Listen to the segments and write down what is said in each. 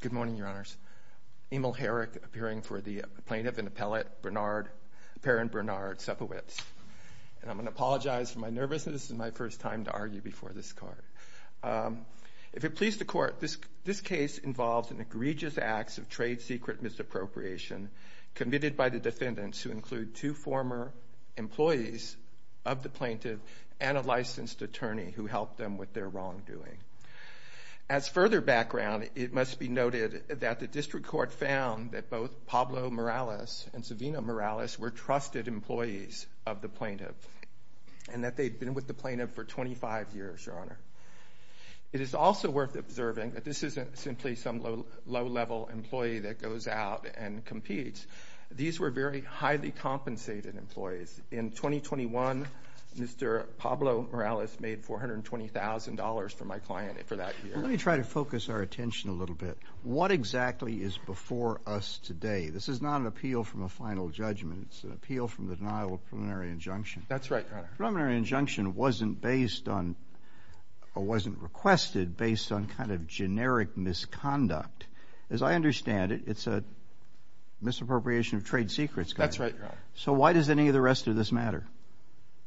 Good morning, Your Honors. Emil Herrick, appearing for the plaintiff and appellate, Perrin Bernard Supowitz. And I'm going to apologize for my nervousness. This is my first time to argue before this Court. If it pleases the Court, this case involves an egregious acts of trade secret misappropriation committed by the defendants, who include two former employees of the plaintiff and a client. As further background, it must be noted that the District Court found that both Pablo Morales and Savino Morales were trusted employees of the plaintiff and that they'd been with the plaintiff for 25 years, Your Honor. It is also worth observing that this isn't simply some low-level employee that goes out and competes. These were very highly compensated employees. In 2021, Mr. Pablo Morales made $420,000 for my client for that year. Let me try to focus our attention a little bit. What exactly is before us today? This is not an appeal from a final judgment. It's an appeal from the denial of preliminary injunction. That's right, Your Honor. Preliminary injunction wasn't based on or wasn't requested based on kind of generic misconduct. As I understand it, it's a misappropriation of trade secrets. That's right, Your Honor. So why does any of the rest of this matter?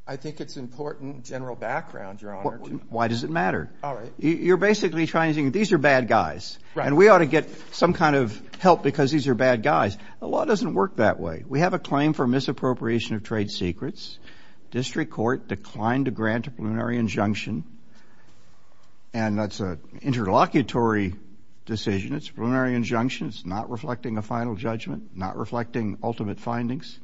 I think it's important general background, Your Honor. Why does it matter? You're basically trying to think these are bad guys and we ought to get some kind of help because these are bad guys. The law doesn't work that way. We have a claim for misappropriation of trade secrets. District Court declined to grant a preliminary injunction and that's an interlocutory decision. It's a preliminary injunction. It's not reflecting a final judgment, not reflecting ultimate findings.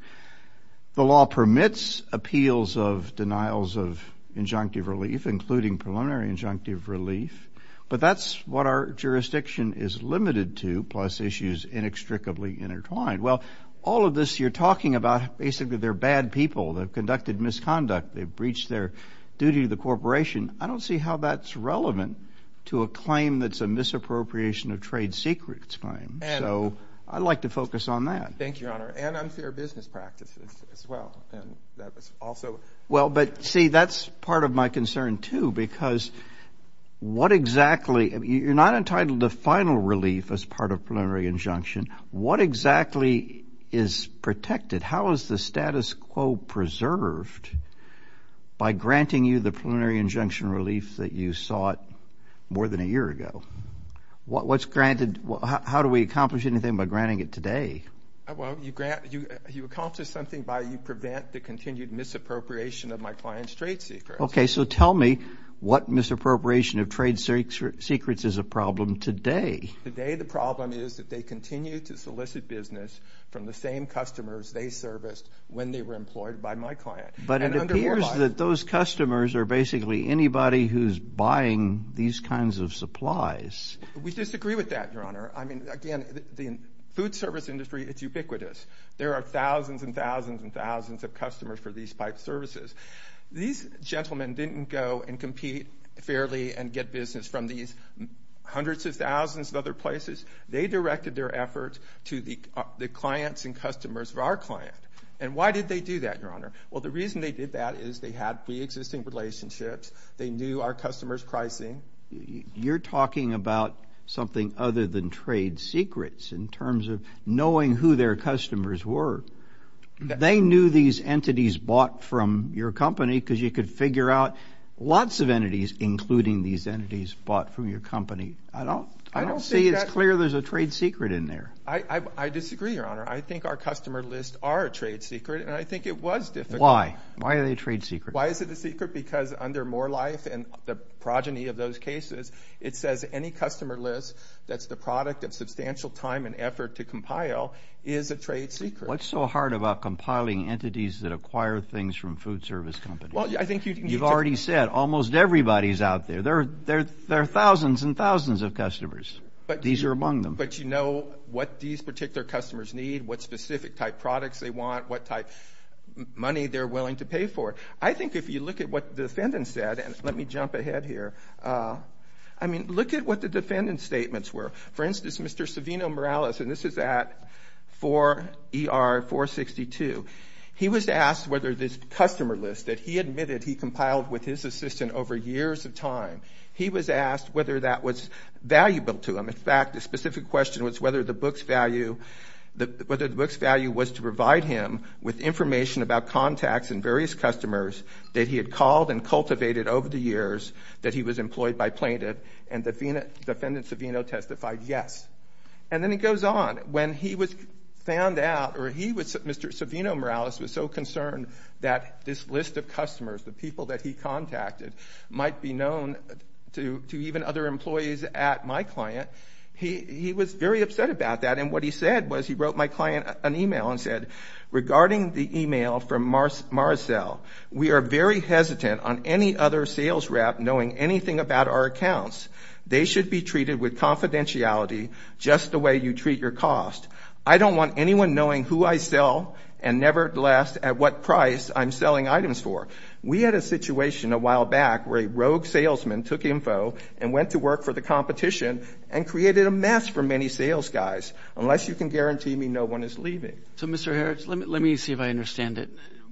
The law permits appeals of injunctive relief, including preliminary injunctive relief, but that's what our jurisdiction is limited to, plus issues inextricably intertwined. Well, all of this you're talking about basically they're bad people. They've conducted misconduct. They've breached their duty to the corporation. I don't see how that's relevant to a claim that's a misappropriation of trade secrets claim. So I'd like to focus on that. Thank you, Your Honor. And unfair business practices as well. Well, but see that's part of my concern too because what exactly, you're not entitled to final relief as part of preliminary injunction. What exactly is protected? How is the status quo preserved by granting you the preliminary injunction relief that you sought more than a year ago? What's granted, how do we accomplish anything by granting it today? Well, you grant, you accomplish something by you prevent the continued misappropriation of my client's trade secrets. Okay, so tell me what misappropriation of trade secrets is a problem today? Today the problem is that they continue to solicit business from the same customers they serviced when they were employed by my client. But it appears that those customers are basically anybody who's buying these kinds of supplies. We disagree with that, Your Honor. I mean, again, the food service industry, it's ubiquitous. There are thousands and thousands and thousands of customers for these pipe services. These gentlemen didn't go and compete fairly and get business from these hundreds of thousands of other places. They directed their efforts to the clients and customers of our client. And why did they do that, Your Honor? Well, the reason they did that is they had pre-existing relationships. They knew our customers pricing. You're talking about something other than trade secrets in terms of knowing who their customers were. They knew these entities bought from your company because you could figure out lots of entities including these entities bought from your company. I don't see it's clear there's a trade secret in there. I disagree, Your Honor. I think our customer lists are a trade secret and I think it was difficult. Why? Why are they a trade secret? Why is it a secret? Because under More Life and the progeny of those cases, it says any customer list that's the product of substantial time and effort to compile is a trade secret. What's so hard about compiling entities that acquire things from food service companies? Well, I think you've already said almost everybody's out there. There are thousands and thousands of customers. These are among them. But you know what these particular customers need, what specific type products they want, what type money they're willing to pay for. I think if you look at what the defendant said, and let me jump ahead here. I mean, look at what the defendant's statements were. For instance, Mr. Savino Morales, and this is at 4 ER 462. He was asked whether this customer list that he admitted he compiled with his assistant over years of time, he was asked whether that was valuable to him. In fact, the specific question was whether the book's value was to provide him with information about contacts and various customers that he had called and that he was employed by plaintiff. And the defendant Savino testified yes. And then it goes on. When he was found out, or he was, Mr. Savino Morales was so concerned that this list of customers, the people that he contacted, might be known to, to even other employees at my client. He, he was very upset about that. And what he said was, he wrote my client an email and said, regarding the email from Marcell, we are very hesitant on any other sales rep knowing anything about our accounts. They should be treated with confidentiality, just the way you treat your cost. I don't want anyone knowing who I sell and nevertheless at what price I'm selling items for. We had a situation a while back where a rogue salesman took info and went to work for the competition and created a mess for many sales guys. Unless you can guarantee me no one is leaving. So Mr.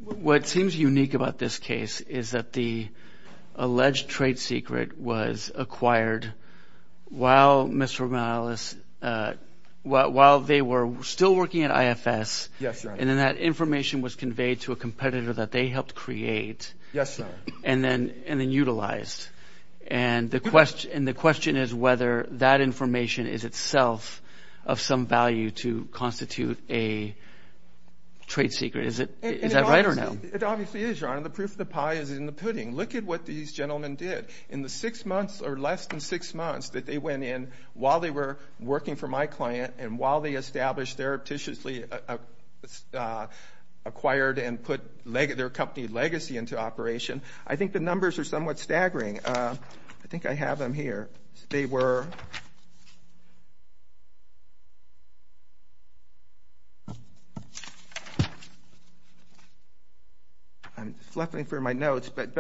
What seems unique about this case is that the alleged trade secret was acquired while Mr. Morales, while they were still working at IFS. Yes, sir. And then that information was conveyed to a competitor that they helped create. Yes, sir. And then, and then utilized. And the question, and the question is whether that information is itself of some value to constitute a trade secret. Is it, is that right or no? It obviously is, your honor. The proof of the pie is in the pudding. Look at what these gentlemen did. In the six months, or less than six months, that they went in while they were working for my client, and while they established, therapeutically acquired and put their company legacy into operation. I think the numbers are somewhat staggering. I think I have them here. They were, I'm flipping through my notes, but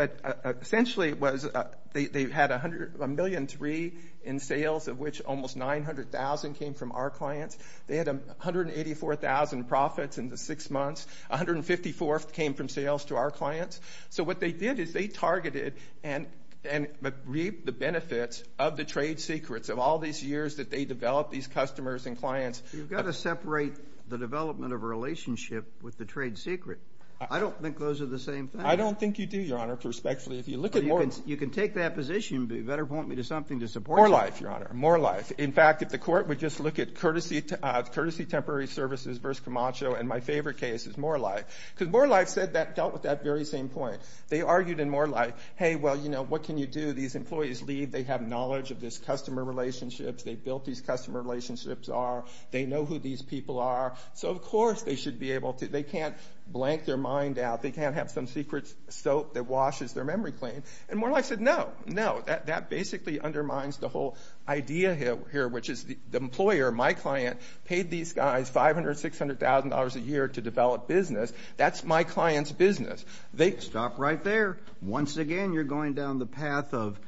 essentially it was, they had a hundred, a million three in sales, of which almost nine hundred thousand came from our clients. They had a hundred and eighty-four thousand profits in the six months. A hundred and fifty-four came from sales to our clients. So what they did is they targeted and, and reaped the benefits of the trade secrets of all these years that they developed these customers and clients. You've got to I don't think those are the same thing. I don't think you do, your honor, prospectually. If you look at more, you can take that position, but you better point me to something to support. More life, your honor. More life. In fact, if the court would just look at courtesy, courtesy temporary services versus Camacho, and my favorite case is More Life, because More Life said that, dealt with that very same point. They argued in More Life, hey, well, you know, what can you do? These employees leave. They have knowledge of this customer relationships. They built these customer relationships are. They know who these people are. So, of course, they should be able to, they can't blank their mind out. They can't have some secret soap that washes their memory clean. And More Life said, no, no. That, that basically undermines the whole idea here, here, which is the, the employer, my client, paid these guys $500,000, $600,000 a year to develop business. That's my client's business. They, stop right there. Once again, you're going down the path of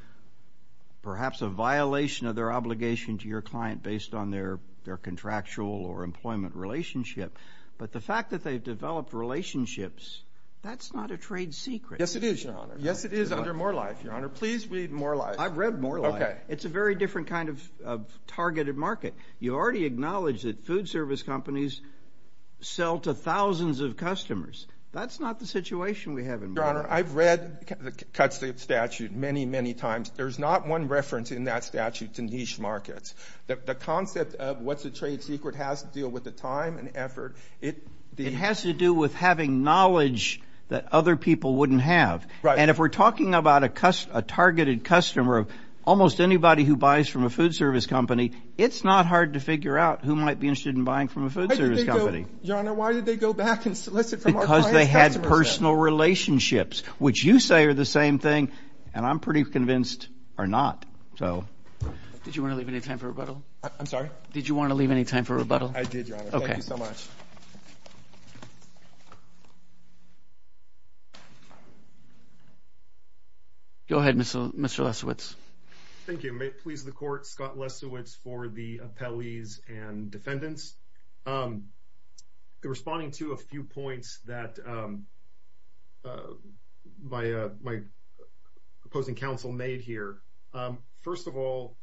perhaps a violation of their obligation to your client based on their, their contractual or employment relationship. But the fact that they've developed relationships, that's not a trade secret. Yes, it is, your honor. Yes, it is under More Life, your honor. Please read More Life. I've read More Life. Okay. It's a very different kind of, of targeted market. You already acknowledged that food service companies sell to thousands of customers. That's not the situation we have in More Life. Your honor, I've read the cuts, the statute many, many times. There's not one reference in that market. The concept of what's a trade secret has to deal with the time and effort. It has to do with having knowledge that other people wouldn't have. And if we're talking about a targeted customer of almost anybody who buys from a food service company, it's not hard to figure out who might be interested in buying from a food service company. Your honor, why did they go back and solicit from our client's customers? Because they had personal relationships, which you say are the same thing, and I'm pretty convinced are not. So did you want to leave any time for rebuttal? I'm sorry. Did you want to leave any time for rebuttal? I did, your honor. Thank you so much. Go ahead, Mr. Lesowitz. Thank you. May it please the court, Scott Lesowitz for the appellees and defendants. Um, responding to a few points that, um, uh, by my opposing counsel made here. Um, first of all,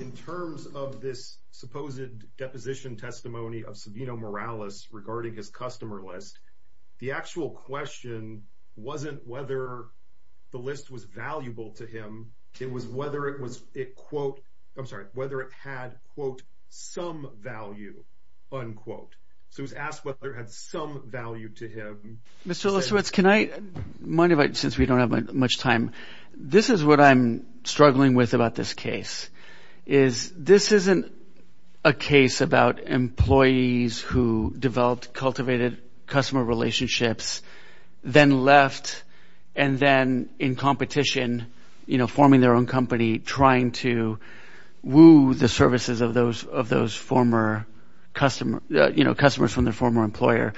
in terms of this supposed deposition testimony of Sabino Morales regarding his customer list, the actual question wasn't whether the list was valuable to him. It was whether it was a quote. I'm sorry whether it had quote some value unquote. So it was asked whether it had some value to him. Mr. Lesowitz, can I mind about since we don't have much time? This is what I'm struggling with about this case is this isn't a case about employees who developed cultivated customer relationships, then left and then in competition, you know, forming their own company, trying to woo the services of those of those former customer, you know, customers from their former employer.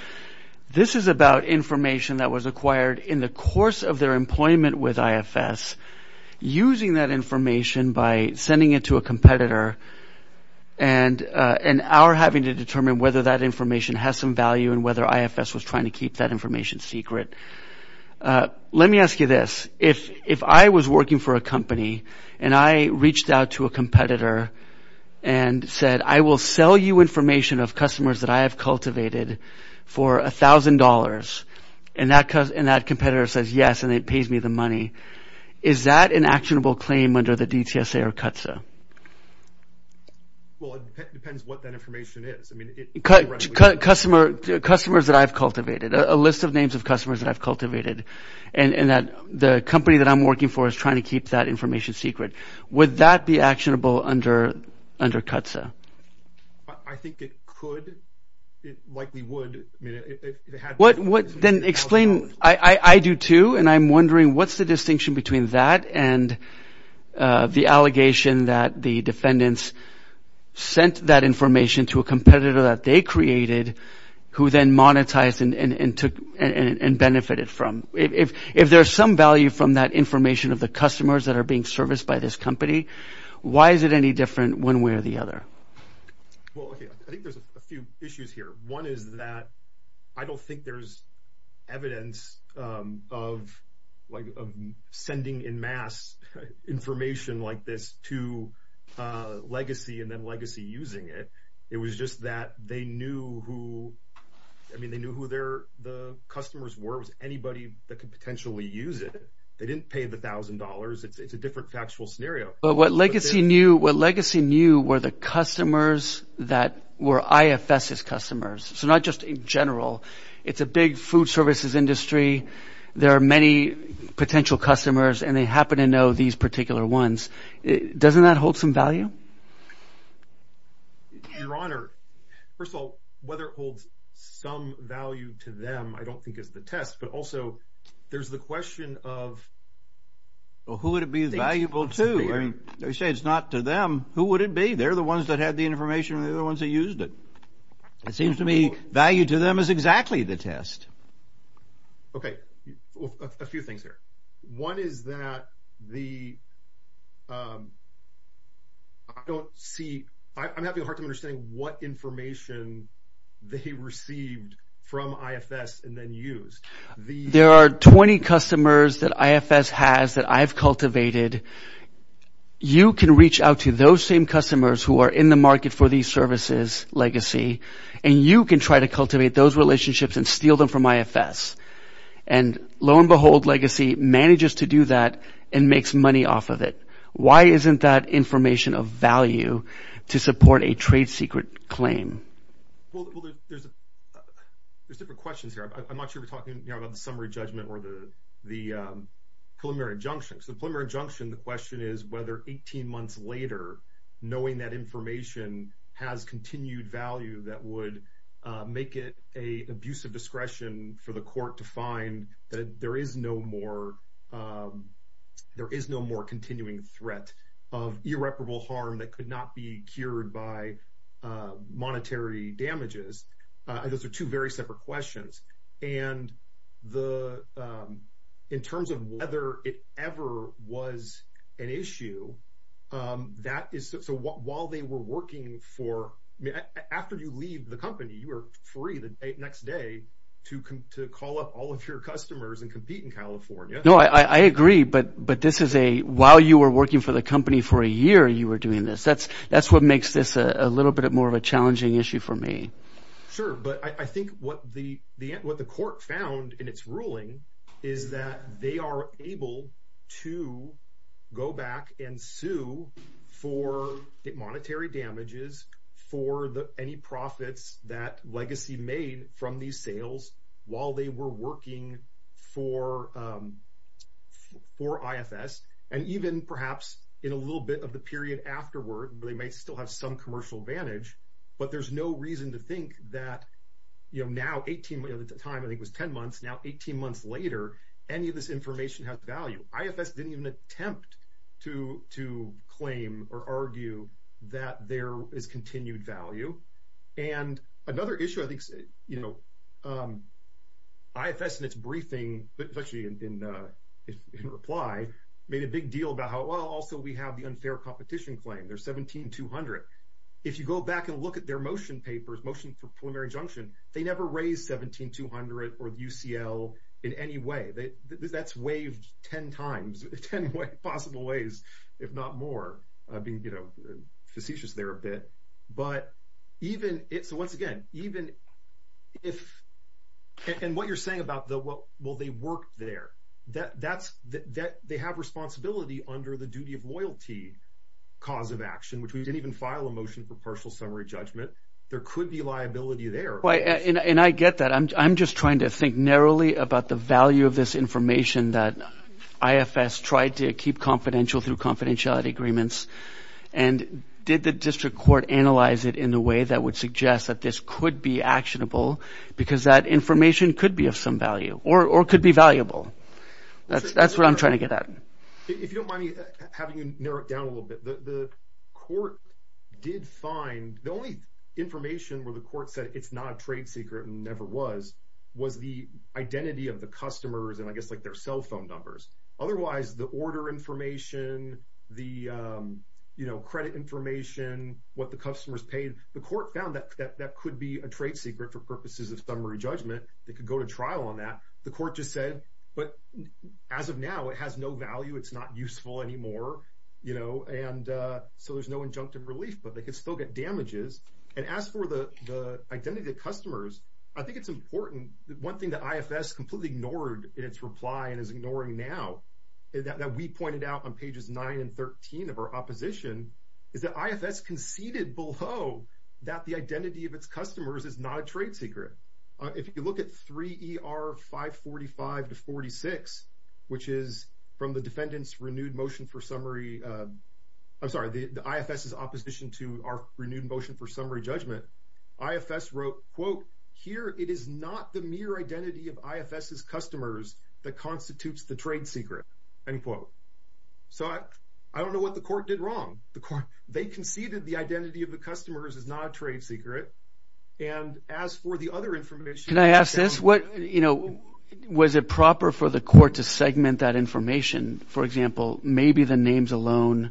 This is about information that was acquired in the course of their employment with I. F. S. Using that information by sending it to a competitor and an hour having to determine whether that information has some value and whether I. F. S. Was trying to keep that information secret. Uh, let me ask you this. If if I was working for a company and I reached out to a competitor and said, I will sell you information of customers that I have cultivated for $1000 and that cause and that competitor says yes, and it pays me the money. Is that an actionable claim under the D. T. S. A. Or cut? So well, it depends what that information is. I mean, customers that I've cultivated a list of names of customers that I've cultivated and that the company that I'm working for is trying to keep that information secret. Would that be actionable under under cuts? I think it could. It likely would. What would then explain? I do, too. And I'm wondering, what's the distinction between that and the allegation that the defendants sent that information to a competitor that they created who then monetized and took and benefited from if if there's some value from that information of the customers that are being serviced by this company. Why is it any different when we're the other? Well, I think there's a few issues here. One is that I don't think there's evidence of like of sending in mass information like this to legacy and then legacy using it. It was just that they knew who I mean, they knew who they're the customers were was anybody that could potentially use it. They different factual scenario. But what legacy knew what legacy knew were the customers that were IFS's customers. So not just in general. It's a big food services industry. There are many potential customers and they happen to know these particular ones. Doesn't that hold some value? Your Honor, first of all, whether it holds some value to them, I don't think is the test, but also there's the question of. Well, who would it be valuable to? I mean, they say it's not to them. Who would it be? They're the ones that had the information and the other ones that used it. It seems to me value to them is exactly the test. OK, a few things here. One is that the. I don't see I'm having a hard time understanding what information they received from IFS and then use. There are 20 customers that IFS has that I've cultivated. You can reach out to those same customers who are in the market for these services legacy and you can try to cultivate those relationships and steal them from IFS. And lo and behold, legacy manages to do that and makes money off of it. Why isn't that information of value to support a trade secret claim? Well, there's there's different questions here. I'm not sure we're talking about the summary judgment or the the preliminary injunctions. The preliminary injunction. The question is whether 18 months later, knowing that information has continued value, that would make it a abuse of discretion for the court to find that there is no more. There is no more continuing threat of irreparable harm that could not be cured by monetary damages. Those are two very separate questions. And the in terms of whether it ever was an issue that is so while they were working for after you leave the company, you are free the next day to to call up all of your customers and compete in California. No, I agree. But but this is a while you were working for the company for a year, you were doing this. That's that's what makes this a little bit more of a challenging issue for me. Sure. But I think what the the what the court found in its ruling is that they are able to go back and sue for monetary damages for the any profits that legacy made from these sales while they were working for for IFS and even perhaps in a little bit of the period afterward, but they may still have some commercial advantage. But there's no reason to think that, you know, now 18 at the time, I think was 10 months now, 18 months later, any of this information has value. IFS didn't even attempt to to claim or argue that there is continued value. And another issue I think, you know, IFS in its briefing, especially in reply, made a big deal about how also we have the unfair competition claim. There's seventeen two hundred. If you go back and look at their motion papers, motion for preliminary injunction, they never raised seventeen two hundred or UCL in any way. That's waived 10 times, 10 possible ways, if not more being, you know, facetious there a bit. But even it's once again, even if and what you're saying about the well, they work there, that that's that they have responsibility under the duty of loyalty cause of action, which we didn't even file a motion for partial summary judgment. There could be liability there. Right. And I get that. I'm just trying to think narrowly about the value of this information that IFS tried to keep confidential through confidentiality agreements. And did the district court analyze it in a way that would suggest that this could be actionable because that information could be of some value or could be valuable? That's that's what I'm trying to get at. If you don't mind me having to narrow it down a little bit, the court did find the only information where the court said it's not a trade secret and never was, was the identity of the customers and I guess like their cell phone numbers. Otherwise, the order information, the credit information, what the customers paid, the court found that that could be a trade secret for purposes of summary judgment that could go to trial on that. The court just said, but as of now, it has no value. It's not useful anymore, you know, and so there's no injunctive relief, but they could still get damages. And as for the the identity of customers, I think it's important that one thing that IFS completely ignored in its reply and is ignoring now that we pointed out on pages nine and 13 of our opposition is that IFS conceded below that the identity of its customers is not a trade secret. If you look at 3 ER 545 to 46, which is from the defendant's renewed motion for summary. I'm sorry, the IFS is opposition to our renewed motion for summary judgment. IFS wrote, quote, Here it is not the mere identity of IFS's customers that constitutes the trade secret, end quote. So I don't know what the court did wrong. The court, they conceded the identity of the customers is not a trade secret. And as for the other information, can I ask this? What was it proper for the court to segment that information? For example, maybe the names alone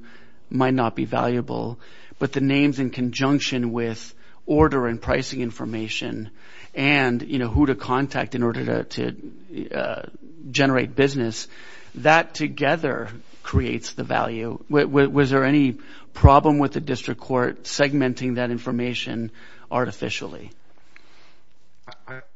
might not be valuable, but the names in conjunction with order and pricing information and who to contact in order to generate business that together creates the value. Was there any problem with the district court segmenting that information artificially?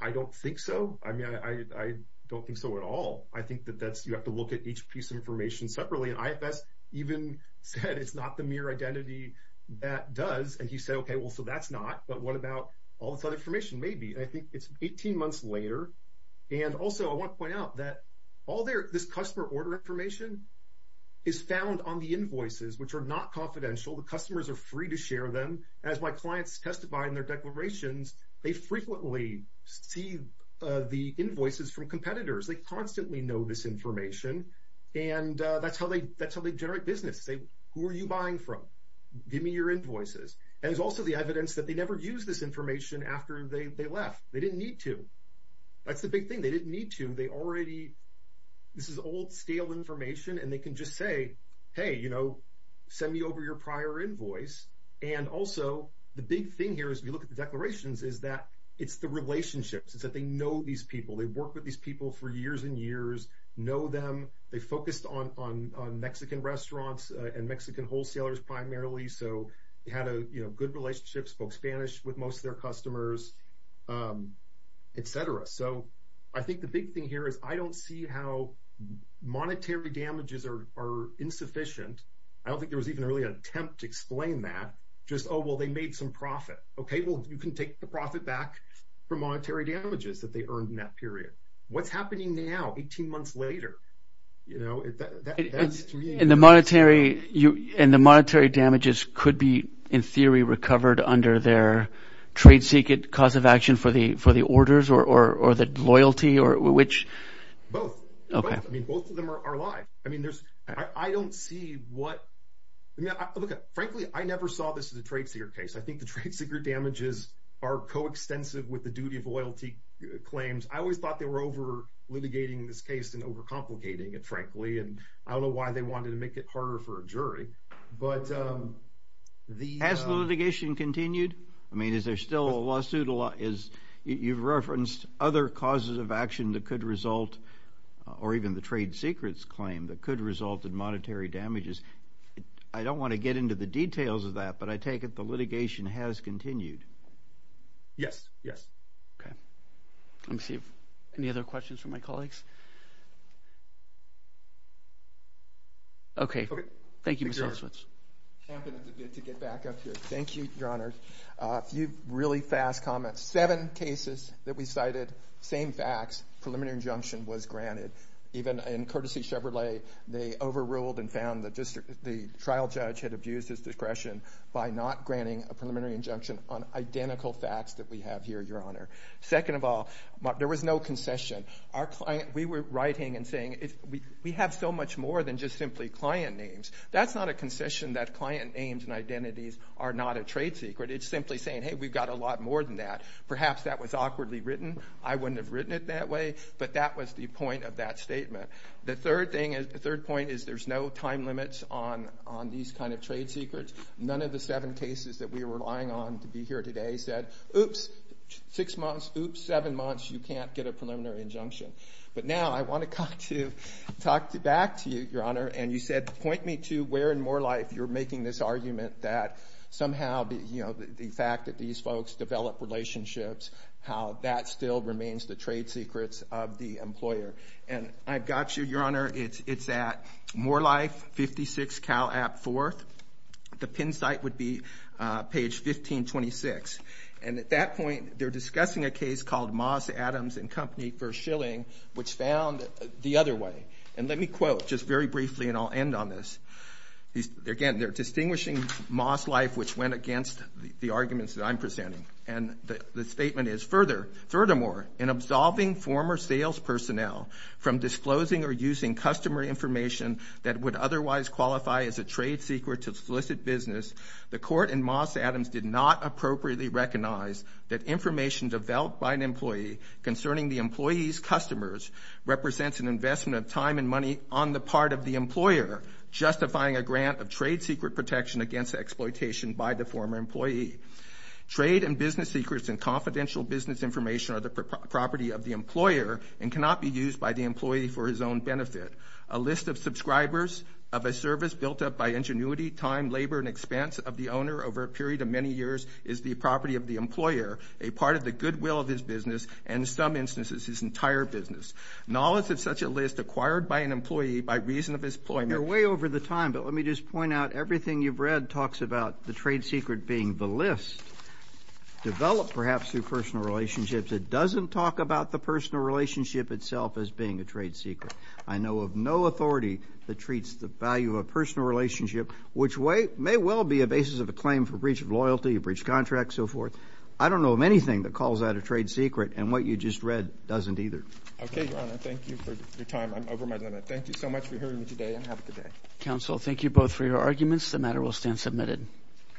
I don't think so. I mean, I don't think so at all. I think that that's you have to look at each piece of information separately. And IFS even said it's not the mere identity that does. And he said, OK, well, so that's not. But what about all this other information? Maybe I think it's 18 months later. And also, I want to point out that all this customer order information is found on the invoices, which are not confidential. The customers are free to share them. As my clients testify in their declarations, they frequently see the invoices from competitors. They constantly know this information. And that's how they that's how they generate business. They who are you buying from? Give me your invoices. And it's also the evidence that they never use this information after they left. They didn't need to. That's the big thing. They didn't need to. They already this is old, stale information. And they can just say, hey, you know, send me over your prior invoice. And also, the big thing here is we look at the declarations is that it's the relationships. It's that they know these people. They work with these people for years and years, know them. They focused on on Mexican restaurants and Mexican wholesalers primarily. So you had a good relationship, spoke Spanish with most of their customers, et cetera. So I think the big thing here is I don't see how monetary damages are insufficient. I don't think there was even really an attempt to explain that. Just, oh, well, they made some profit. OK, well, you can take the profit back for monetary damages that they earned in that period. What's happening now? Eighteen months later, you know, in the monetary and the monetary damages could be, in theory, recovered under their trade secret cause of action for the for the orders or the loyalty or which? Both. OK, I mean, both of them are alive. I mean, there's I don't see what I look at. Frankly, I never saw this as a trade secret case. I think the trade secret damages are coextensive with the duty of loyalty claims. I always thought they were over litigating this case and overcomplicating it, frankly. And I don't know why they wanted to make it harder for a jury. But the has the litigation continued? I mean, is there still a lawsuit? A lot is you've referenced other causes of action that could result or even the trade secrets claim that could result in monetary damages. I don't want to get into the details of that, but I take it the litigation has continued. Yes, yes. OK, let's see if any other questions from my colleagues. OK, thank you, Mr. Oswitz. Thank you, Your Honor. A few really fast comments, seven cases that we cited, same facts, preliminary injunction was granted even in courtesy Chevrolet. They overruled and found that the trial judge had abused his discretion by not granting a preliminary injunction on identical facts that we have here, Your Honor. Second of all, there was no concession. We were writing and saying we have so much more than just simply client names. That's not a concession that client names and identities are not a trade secret. It's simply saying, hey, we've got a lot more than that. Perhaps that was awkwardly written. I wouldn't have written it that way, but that was the point of that statement. The third point is there's no time limits on these kind of trade secrets. None of the seven cases that we were relying on to be here today said, oops, six months, oops, seven months, you can't get a preliminary injunction. But now I want to talk back to you, Your Honor, and you said point me to where in Morelife you're making this argument that somehow the fact that these folks develop relationships, how that still remains the trade secrets of the employer. And I've got you, Your Honor. It's at Morelife 56 Cal App 4. The pin site would be page 1526. And at that point, they're discussing a case called Moss Adams and Company v. Schilling, which found the other way. And let me quote just very briefly, and I'll end on this. Again, they're distinguishing Moss Life, which went against the arguments that I'm presenting. And the statement is, furthermore, in absolving former sales personnel from disclosing or using customer information that would otherwise qualify as a trade secret to solicit business, the court in Moss Adams did not appropriately recognize that information developed by an employee concerning the employee's customers represents an investment of time and money on the part of the employer, justifying a grant of trade secret protection against exploitation by the former employee. Trade and business secrets and confidential business information are the property of the employer and cannot be used by the employee for his own benefit. A list of subscribers of a service built up by ingenuity, time, labor, and expense of the owner over a period of many years is the property of the employer, a part of the goodwill of his business and, in some instances, his entire business. Knowledge of such a list acquired by an employee by reason of his employment. You're way over the time, but let me just point out everything you've read talks about the trade secret being the list developed perhaps through personal relationships. It doesn't talk about the personal relationship itself as being a trade secret. I know of no authority that treats the value of a personal relationship, which may well be a basis of a claim for breach of loyalty, a breach of contract, so forth. I don't know of anything that calls that a trade secret, and what you just read doesn't either. Okay, Your Honor. Thank you for your time. I'm over my limit. Thank you so much for hearing me today, and have a good day. Counsel, thank you both for your arguments. The matter will stand submitted.